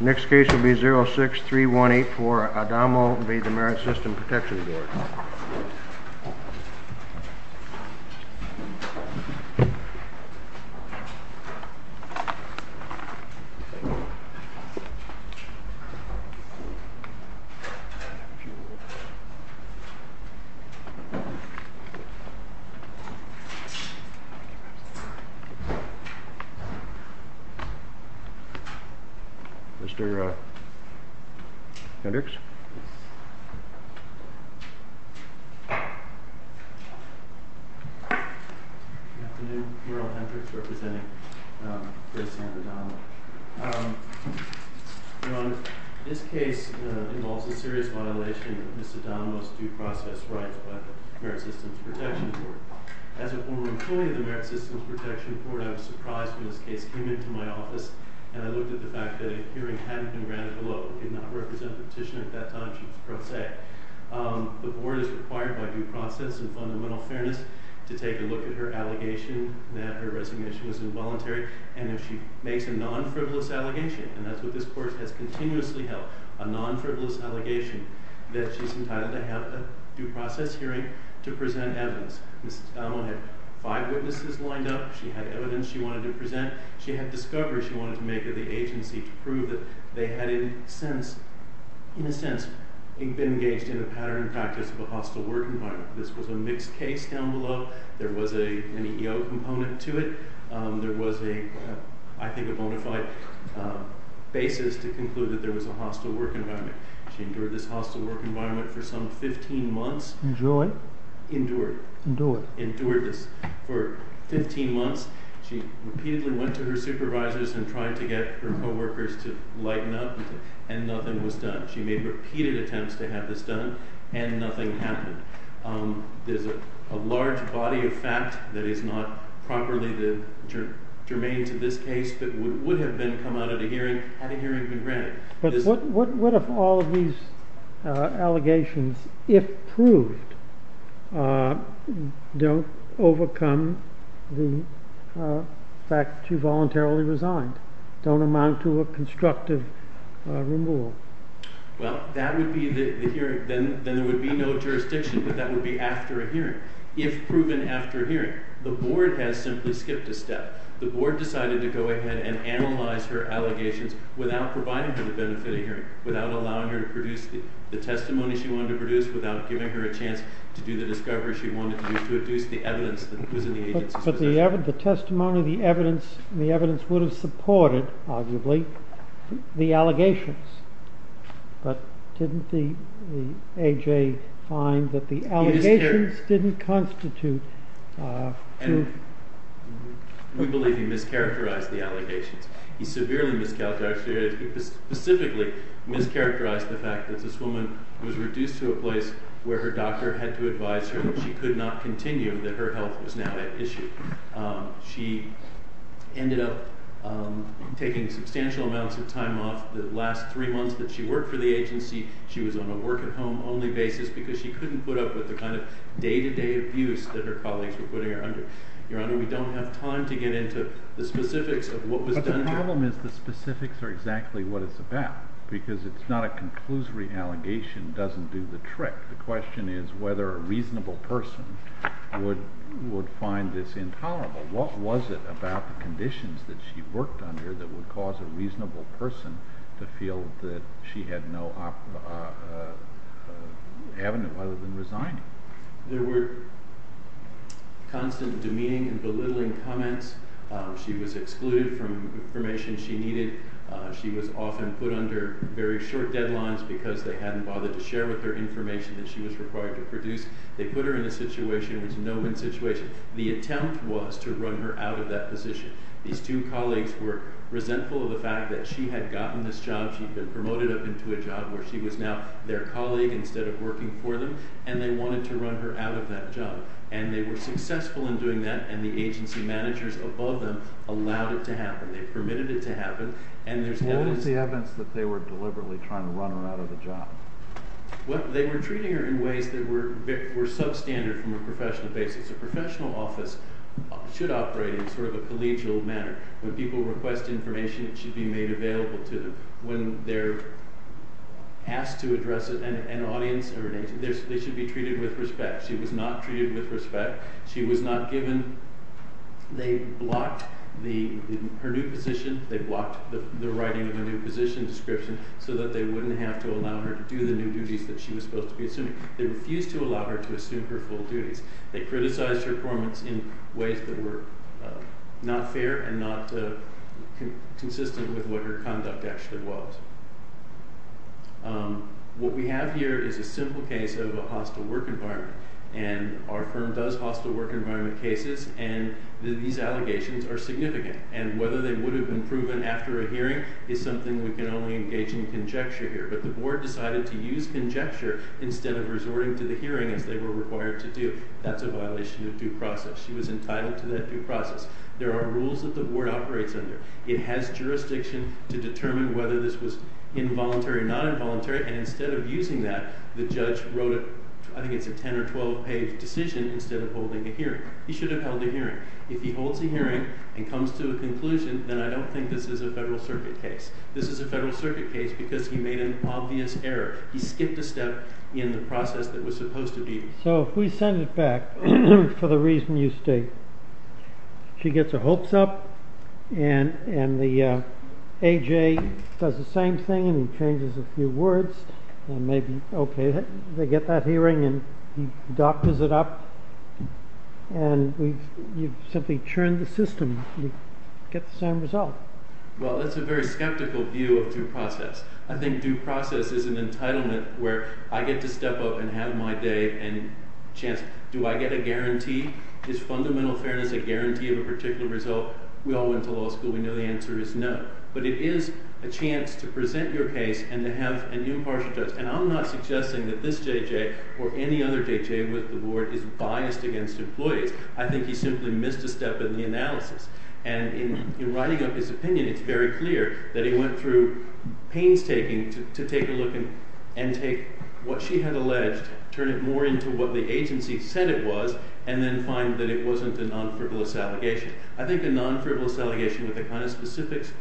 Next case will be 063184, Adamo v. The Merit System Protection Board. Mr. Hendricks Good afternoon. Merle Hendricks representing Ms. Adamo. This case involves a serious violation of Ms. Adamo's due process rights by the Merit Systems Protection Board. As a former employee of the Merit Systems Protection Board, I was surprised when this case came into my office and I looked at the fact that a hearing hadn't been granted below. It did not represent the petitioner at that time, she was pro se. The board is required by due process and fundamental fairness to take a look at her allegation that her resignation was involuntary, and if she makes a non-frivolous allegation, and that's what this court has continuously held, a non-frivolous allegation, that she's entitled to have a due process hearing to present evidence. Ms. Adamo had five witnesses lined up, she had evidence she wanted to present, she had discovery she wanted to make of the agency to prove that they had in a sense been engaged in a patterning practice of a hostile work environment. This was a mixed case down below, there was an EEO component to it, there was a, I think a bona fide basis to conclude that there was a hostile work environment. She endured this hostile work environment for some 15 months. Endured? Endured. Endured. Endured this for 15 months. She repeatedly went to her supervisors and tried to get her co-workers to lighten up, and nothing was done. She made repeated attempts to have this done, and nothing happened. There's a large body of fact that is not properly germane to this case that would have been come out at a hearing, had a hearing been granted. But what if all of these allegations, if proved, don't overcome the fact she voluntarily resigned? Don't amount to a constructive removal? Well, then there would be no jurisdiction, but that would be after a hearing. If proven after a hearing, the board has simply skipped a step. The board decided to go ahead and analyze her allegations without providing her the benefit of hearing, without allowing her to produce the testimony she wanted to produce, without giving her a chance to do the discovery she wanted to do, But the testimony, the evidence, the evidence would have supported, arguably, the allegations. But didn't the A.J. find that the allegations didn't constitute truth? We believe he mischaracterized the allegations. He severely mischaracterized the allegations. He specifically mischaracterized the fact that this woman was reduced to a place where her doctor had to advise her that she could not continue, that her health was now at issue. She ended up taking substantial amounts of time off. The last three months that she worked for the agency, she was on a work-at-home only basis because she couldn't put up with the kind of day-to-day abuse that her colleagues were putting her under. Your Honor, we don't have time to get into the specifics of what was done. But the problem is the specifics are exactly what it's about, because it's not a conclusory allegation that doesn't do the trick. The question is whether a reasonable person would find this intolerable. What was it about the conditions that she worked under that would cause a reasonable person to feel that she had no avenue other than resigning? There were constant demeaning and belittling comments. She was excluded from information she needed. She was often put under very short deadlines because they hadn't bothered to share with her information that she was required to produce. They put her in a situation. It was a no-win situation. The attempt was to run her out of that position. These two colleagues were resentful of the fact that she had gotten this job. She had been promoted up into a job where she was now their colleague instead of working for them, and they wanted to run her out of that job. And they were successful in doing that, and the agency managers above them allowed it to happen. What was the evidence that they were deliberately trying to run her out of the job? They were treating her in ways that were substandard from a professional basis. A professional office should operate in sort of a collegial manner. When people request information, it should be made available to them. When they're asked to address it, they should be treated with respect. She was not treated with respect. She was not given... They blocked her new position. They blocked the writing of a new position description so that they wouldn't have to allow her to do the new duties that she was supposed to be assuming. They refused to allow her to assume her full duties. They criticized her performance in ways that were not fair and not consistent with what her conduct actually was. What we have here is a simple case of a hostile work environment, and our firm does hostile work environment cases, and these allegations are significant. And whether they would have been proven after a hearing is something we can only engage in conjecture here. But the board decided to use conjecture instead of resorting to the hearing as they were required to do. That's a violation of due process. She was entitled to that due process. There are rules that the board operates under. It has jurisdiction to determine whether this was involuntary or non-involuntary, and instead of using that, the judge wrote, I think it's a 10 or 12-page decision, instead of holding a hearing. He should have held a hearing. If he holds a hearing and comes to a conclusion, then I don't think this is a Federal Circuit case. This is a Federal Circuit case because he made an obvious error. He skipped a step in the process that was supposed to be... So if we send it back for the reason you state, she gets her hopes up, and the AJ does the same thing and he changes a few words, and maybe, okay, they get that hearing and he doctors it up, and you've simply churned the system. You get the same result. Well, that's a very skeptical view of due process. I think due process is an entitlement where I get to step up and have my day and chance. Do I get a guarantee? Is fundamental fairness a guarantee of a particular result? We all went to law school. We know the answer is no. But it is a chance to present your case and to have a new impartial judge, and I'm not suggesting that this JJ or any other JJ with the board is biased against employees. I think he simply missed a step in the analysis. And in writing up his opinion, it's very clear that he went through painstaking to take a look and take what she had alleged, turn it more into what the agency said it was, and then find that it wasn't a non-frivolous allegation. I think a non-frivolous allegation with the kind of specifics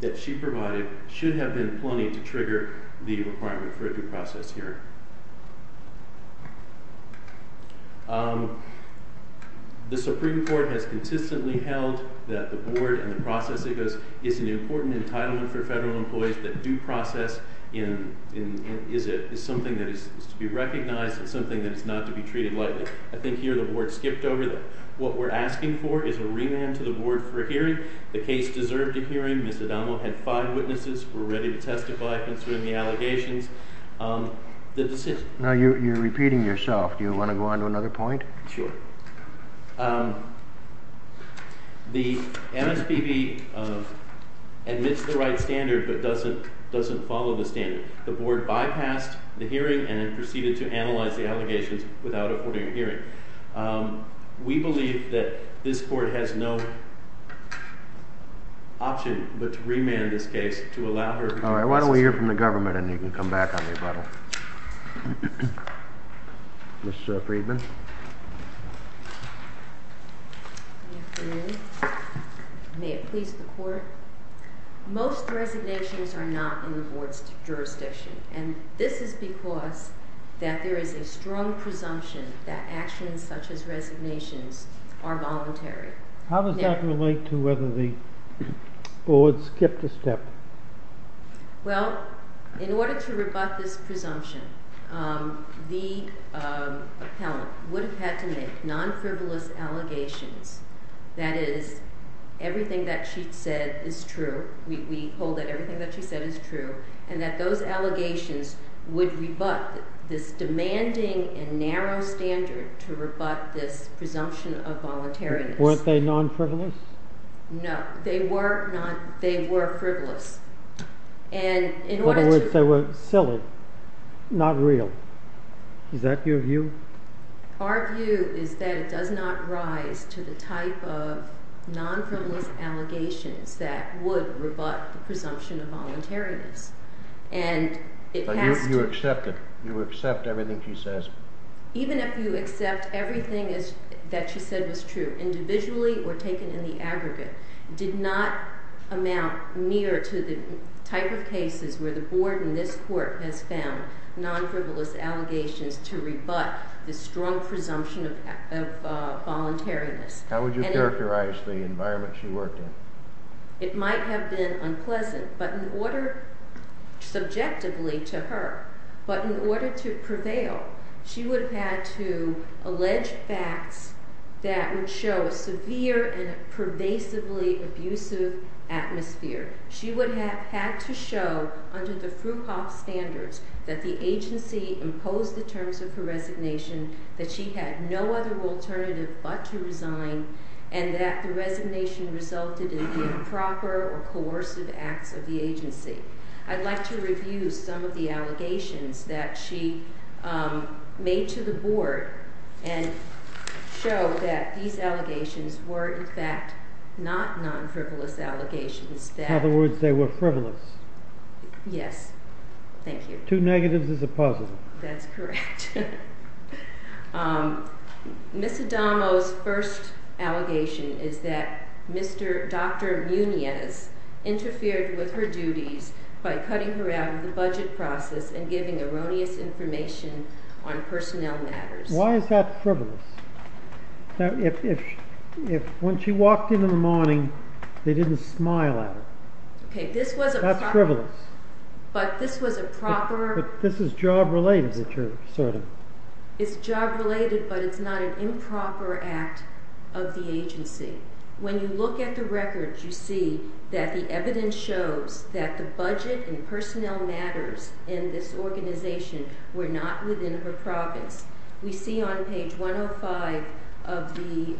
that she provided should have been plenty to trigger the requirement for a due process hearing. The Supreme Court has consistently held that the board and the process it goes is an important entitlement for federal employees that due process is something that is to be recognized and something that is not to be treated lightly. I think here the board skipped over that. What we're asking for is a remand to the board for a hearing. The case deserved a hearing. Ms. Adamo had five witnesses who were ready to testify concerning the allegations. The decision. You're repeating yourself. Do you want to go on to another point? Sure. The MSPB admits the right standard but doesn't follow the standard. The board bypassed the hearing and then proceeded to analyze the allegations without affording a hearing. We believe that this court has no option but to remand this case to allow her to testify. All right, why don't we hear from the government and then you can come back on the rebuttal. Ms. Friedman. Good afternoon. May it please the court. Most resignations are not in the board's jurisdiction and this is because that there is a strong presumption that actions such as resignations are voluntary. How does that relate to whether the board skipped a step? Well, in order to rebut this presumption, the appellant would have had to make non-frivolous allegations. That is, everything that she said is true. We hold that everything that she said is true and that those allegations would rebut this demanding and narrow standard to rebut this presumption of voluntariness. Weren't they non-frivolous? No, they were frivolous. In other words, they were silly, not real. Is that your view? Our view is that it does not rise to the type of non-frivolous allegations that would rebut the presumption of voluntariness. But you accept it? You accept everything she says? Even if you accept everything that she said was true, individually or taken in the aggregate, did not amount near to the type of cases where the board in this court has found non-frivolous allegations to rebut the strong presumption of voluntariness. How would you characterize the environment she worked in? It might have been unpleasant, subjectively to her. But in order to prevail, she would have had to allege facts that would show a severe and pervasively abusive atmosphere. She would have had to show, under the Fruchoff standards, that the agency imposed the terms of her resignation, that she had no other alternative but to resign, and that the resignation resulted in the improper or coercive acts of the agency. I'd like to review some of the allegations that she made to the board and show that these allegations were, in fact, not non-frivolous allegations. In other words, they were frivolous? Yes. Thank you. Two negatives is a positive. That's correct. Ms. Adamo's first allegation is that Dr. Muniz interfered with her duties by cutting her out of the budget process and giving erroneous information on personnel matters. Why is that frivolous? When she walked in in the morning, they didn't smile at her. That's frivolous. But this was a proper... This is job-related, sort of. It's job-related, but it's not an improper act of the agency. When you look at the records, you see that the evidence shows that the budget and personnel matters in this organization were not within her province. We see on page 105 of the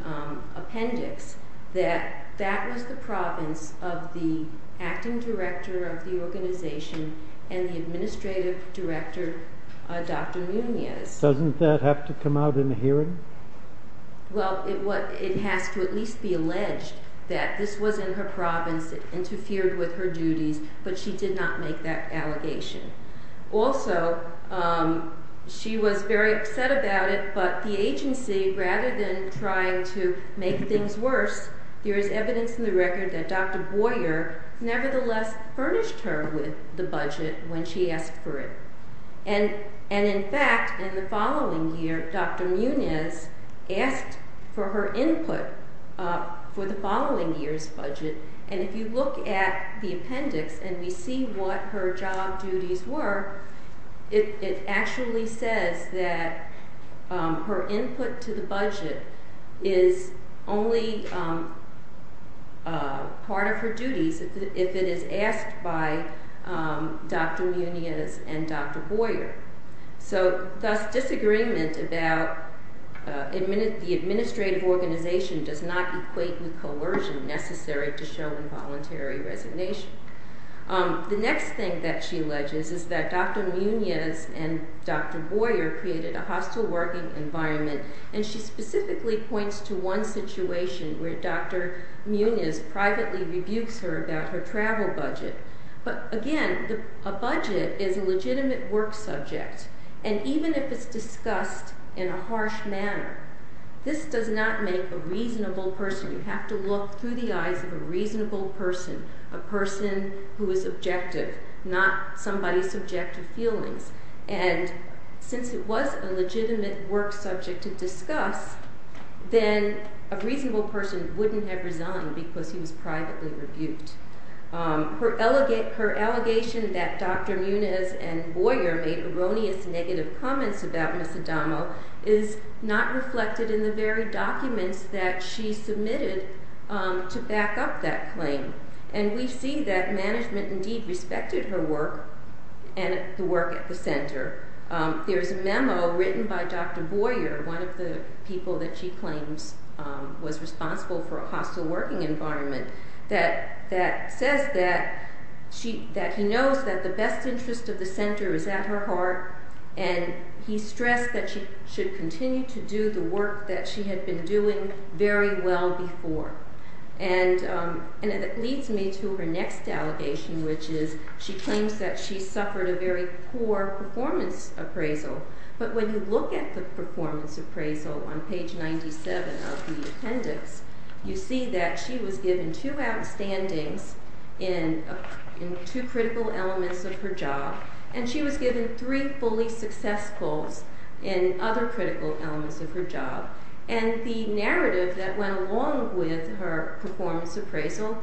appendix that that was the province of the acting director of the organization and the administrative director, Dr. Muniz. Doesn't that have to come out in a hearing? Well, it has to at least be alleged that this was in her province, it interfered with her duties, but she did not make that allegation. Also, she was very upset about it, but the agency, rather than trying to make things worse, there is evidence in the record that Dr. Boyer nevertheless furnished her with the budget when she asked for it. And in fact, in the following year, Dr. Muniz asked for her input for the following year's budget, and if you look at the appendix and we see what her job duties were, is only part of her duties if it is asked by Dr. Muniz and Dr. Boyer. So, thus, disagreement about the administrative organization does not equate with coercion necessary to show involuntary resignation. The next thing that she alleges is that Dr. Muniz and Dr. Boyer created a hostile working environment, and she specifically points to one situation where Dr. Muniz privately rebukes her about her travel budget. But again, a budget is a legitimate work subject, and even if it's discussed in a harsh manner, this does not make a reasonable person. You have to look through the eyes of a reasonable person, a person who is objective, not somebody's subjective feelings. And since it was a legitimate work subject to discuss, then a reasonable person wouldn't have resigned because he was privately rebuked. Her allegation that Dr. Muniz and Boyer made erroneous negative comments about Ms. Adamo is not reflected in the very documents that she submitted to back up that claim. And we see that management indeed respected her work and the work at the center. There's a memo written by Dr. Boyer, one of the people that she claims was responsible for a hostile working environment, that says that he knows that the best interest of the center is at her heart, and he stressed that she should continue to do the work that she had been doing very well before. And it leads me to her next allegation, which is she claims that she suffered a very poor performance appraisal. But when you look at the performance appraisal on page 97 of the appendix, you see that she was given two outstandings in two critical elements of her job, and she was given three fully successfuls in other critical elements of her job. And the narrative that went along with her performance appraisal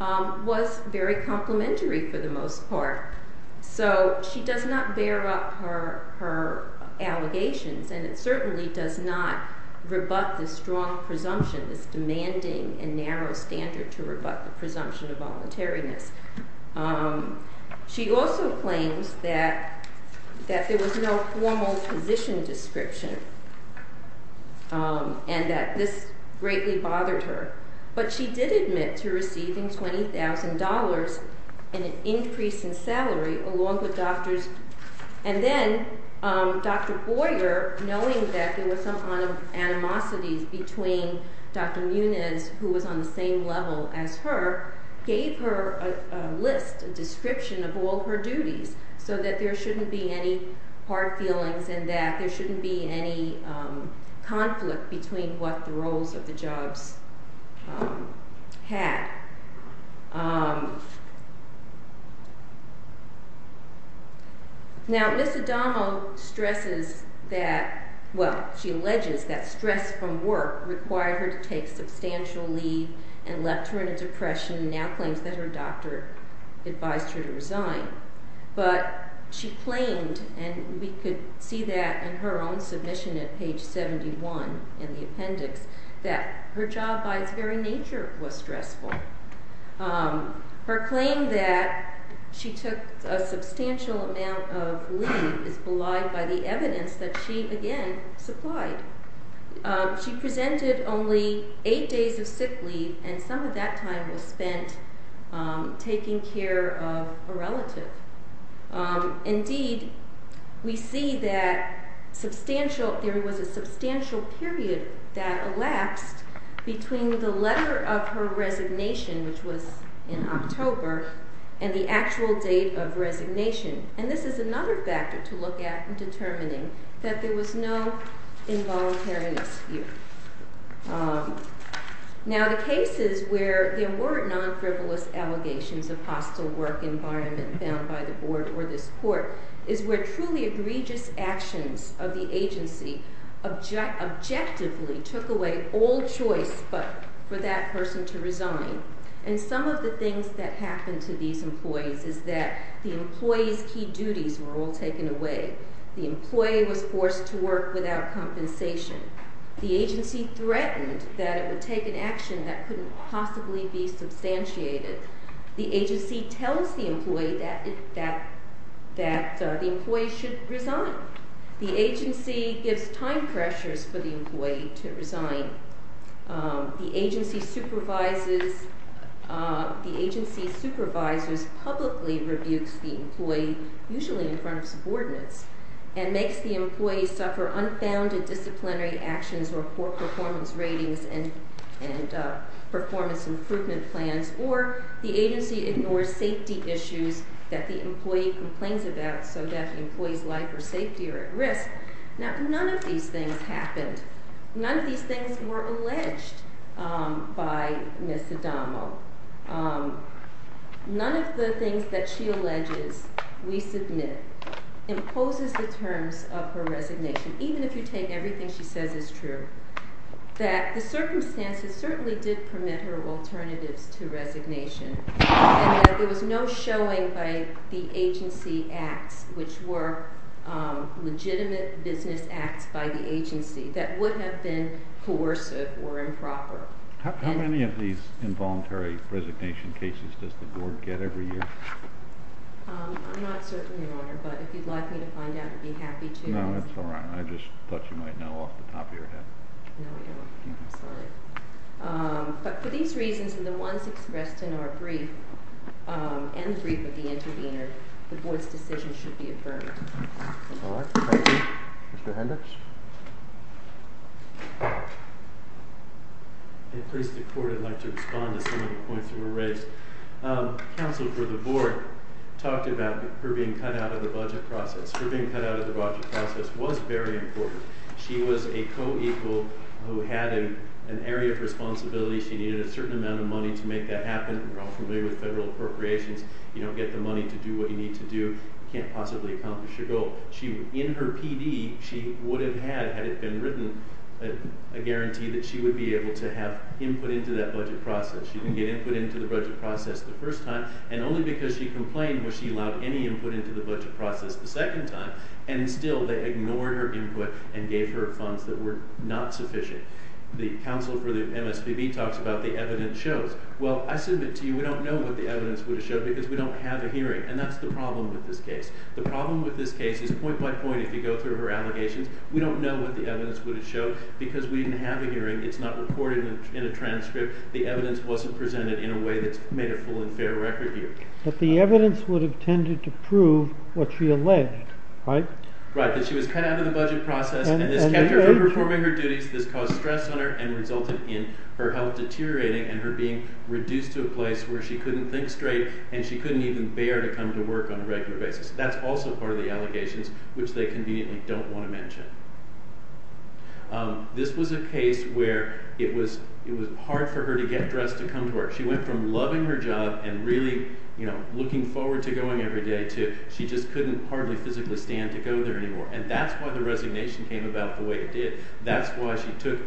was very complimentary for the most part. So she does not bear up her allegations, and it certainly does not rebut the strong presumption, this demanding and narrow standard to rebut the presumption of voluntariness. She also claims that there was no formal position description and that this greatly bothered her. But she did admit to receiving $20,000 in an increase in salary along with doctors. And then Dr. Boyer, knowing that there were some animosities between Dr. Muniz, who was on the same level as her, gave her a list, a description of all her duties so that there shouldn't be any hard feelings and that there shouldn't be any conflict between what the roles of the jobs had. Now, Ms. Adamo stresses that, well, she alleges that stress from work required her to take substantial leave and left her in a depression and now claims that her doctor advised her to resign. But she claimed, and we could see that in her own submission at page 71 in the appendix, that her job by its very nature was stressful. Her claim that she took a substantial amount of leave is belied by the evidence that she, again, supplied. She presented only eight days of sick leave and some of that time was spent taking care of a relative. Indeed, we see that there was a substantial period that elapsed between the letter of her resignation, which was in October, and the actual date of resignation. And this is another factor to look at in determining that there was no involuntariness here. Now, the cases where there were non-frivolous allegations of hostile work environment found by the board or this court is where truly egregious actions of the agency objectively took away all choice but for that person to resign. And some of the things that happened to these employees is that the employees' key duties were all taken away. The employee was forced to work without compensation. The agency threatened that it would take an action that couldn't possibly be substantiated. The agency tells the employee that the employee should resign. The agency gives time pressures for the employee to resign. The agency supervisors publicly rebukes the employee, usually in front of subordinates, and makes the employee suffer unfounded disciplinary actions or poor performance ratings and performance improvement plans, or the agency ignores safety issues that the employee complains about so that the employee's life or safety are at risk. Now, none of these things happened. None of these things were alleged by Ms. Adamo. None of the things that she alleges we submit imposes the terms of her resignation, even if you take everything she says is true, that the circumstances certainly did permit her alternatives to resignation and that there was no showing by the agency acts, which were legitimate business acts by the agency, that would have been coercive or improper. How many of these involuntary resignation cases does the Board get every year? I'm not certain, Your Honor, but if you'd like me to find out, I'd be happy to. No, that's all right. I just thought you might know off the top of your head. No, I don't. I'm sorry. But for these reasons and the ones expressed in our brief and the brief of the intervener, the Board's decision should be affirmed. All right. Thank you. Mr. Hendricks? At least the Court would like to respond to some of the points that were raised. Counsel for the Board talked about her being cut out of the budget process. Her being cut out of the budget process was very important. She was a co-equal who had an area of responsibility. She needed a certain amount of money to make that happen. We're all familiar with federal appropriations. You don't get the money to do what you need to do. You can't possibly accomplish your goal. In her PD, she would have had, had it been written, a guarantee that she would be able to have input into that budget process. She didn't get input into the budget process the first time, and only because she complained was she allowed any input into the budget process the second time, and still they ignored her input and gave her funds that were not sufficient. The counsel for the MSPB talks about the evidence shows. Well, I submit to you we don't know what the evidence would have showed because we don't have a hearing, and that's the problem with this case. The problem with this case is point by point, if you go through her allegations, we don't know what the evidence would have showed because we didn't have a hearing. It's not recorded in a transcript. The evidence wasn't presented in a way that's made a full and fair record here. But the evidence would have tended to prove what she alleged, right? Right, that she was cut out of the budget process, and this kept her from performing her duties. This caused stress on her and resulted in her health deteriorating and her being reduced to a place where she couldn't think straight, and she couldn't even bear to come to work on a regular basis. That's also part of the allegations, which they conveniently don't want to mention. This was a case where it was hard for her to get dressed to come to work. She went from loving her job and really looking forward to going every day to she just couldn't hardly physically stand to go there anymore, and that's why the resignation came about the way it did. That's why she took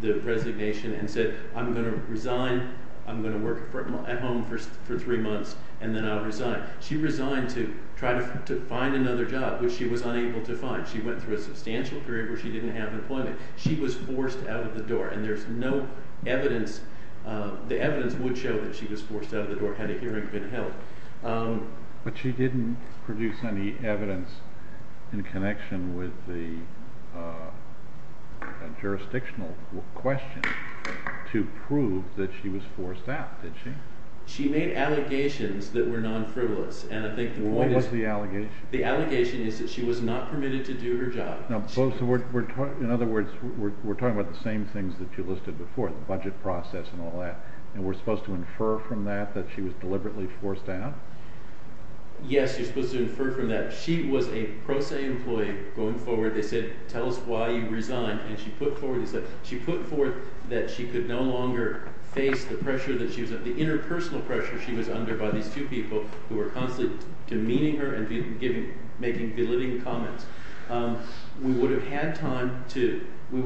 the resignation and said, I'm going to resign, I'm going to work at home for three months, and then I'll resign. She resigned to try to find another job, which she was unable to find. She went through a substantial period where she didn't have employment. She was forced out of the door, and there's no evidence. The evidence would show that she was forced out of the door had a hearing been held. But she didn't produce any evidence in connection with the jurisdictional question to prove that she was forced out, did she? She made allegations that were non-frivolous. What was the allegation? The allegation is that she was not permitted to do her job. In other words, we're talking about the same things that you listed before, the budget process and all that, and we're supposed to infer from that that she was deliberately forced out? Yes, you're supposed to infer from that. She was a pro se employee going forward. They said, tell us why you resigned, and she put forth that she could no longer face the inner personal pressure she was under by these two people who were constantly demeaning her and making belittling comments. We would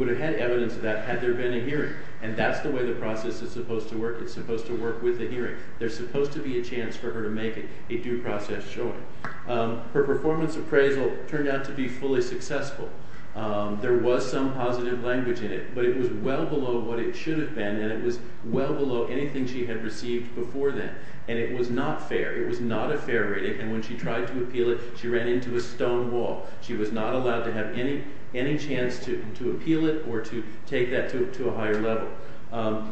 have had evidence of that had there been a hearing, and that's the way the process is supposed to work. It's supposed to work with the hearing. There's supposed to be a chance for her to make a due process showing. Her performance appraisal turned out to be fully successful. There was some positive language in it, but it was well below what it should have been, and it was well below anything she had received before then, and it was not fair. It was not a fair rating, and when she tried to appeal it, she ran into a stone wall. She was not allowed to have any chance to appeal it or to take that to a higher level.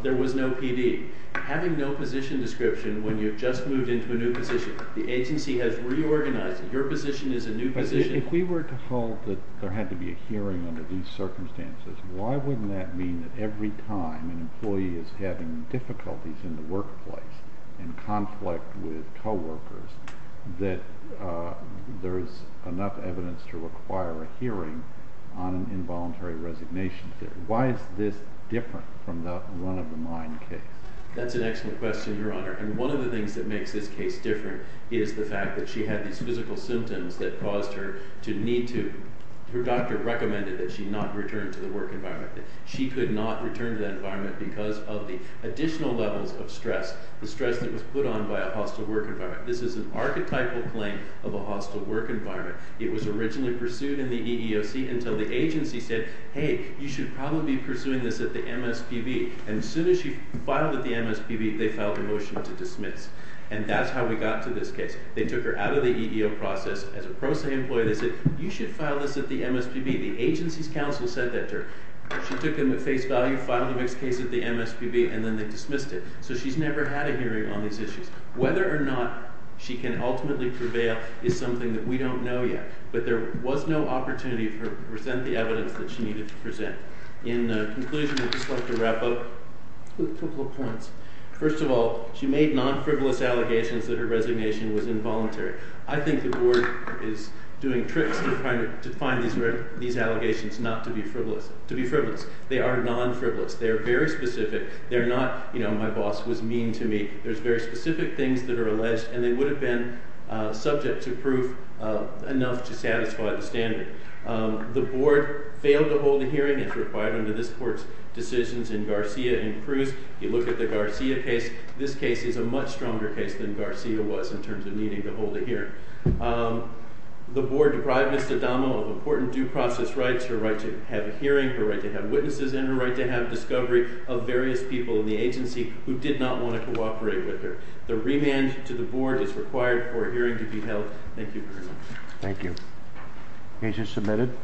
There was no PD. Having no position description when you've just moved into a new position, the agency has reorganized it. Your position is a new position. If we were to hold that there had to be a hearing under these circumstances, why wouldn't that mean that every time an employee is having difficulties in the workplace in conflict with coworkers that there is enough evidence to require a hearing on an involuntary resignation theory? Why is this different from the run-of-the-mind case? That's an excellent question, Your Honor, and one of the things that makes this case different is the fact that she had these physical symptoms that caused her to need to. Her doctor recommended that she not return to the work environment. She could not return to that environment because of the additional levels of stress, the stress that was put on by a hostile work environment. This is an archetypal claim of a hostile work environment. It was originally pursued in the EEOC until the agency said, hey, you should probably be pursuing this at the MSPB, and as soon as she filed at the MSPB, they filed a motion to dismiss, and that's how we got to this case. They took her out of the EEO process. As a pro se employee, they said, you should file this at the MSPB. The agency's counsel said that to her. She took them at face value, filed the mixed case at the MSPB, and then they dismissed it. So she's never had a hearing on these issues. Whether or not she can ultimately prevail is something that we don't know yet, but there was no opportunity to present the evidence that she needed to present. In conclusion, I'd just like to wrap up with a couple of points. First of all, she made non-frivolous allegations that her resignation was involuntary. I think the board is doing tricks to find these allegations not to be frivolous. They are non-frivolous. They are very specific. They're not, you know, my boss was mean to me. There's very specific things that are alleged, and they would have been subject to proof enough to satisfy the standard. The board failed to hold a hearing as required under this court's decisions in Garcia and Cruz. You look at the Garcia case. This case is a much stronger case than Garcia was in terms of needing to hold a hearing. The board deprived Ms. D'Addamo of important due process rights, her right to have a hearing, her right to have witnesses, and her right to have discovery of various people in the agency who did not want to cooperate with her. The remand to the board is required for a hearing to be held. Thank you very much. Thank you. Agent submitted.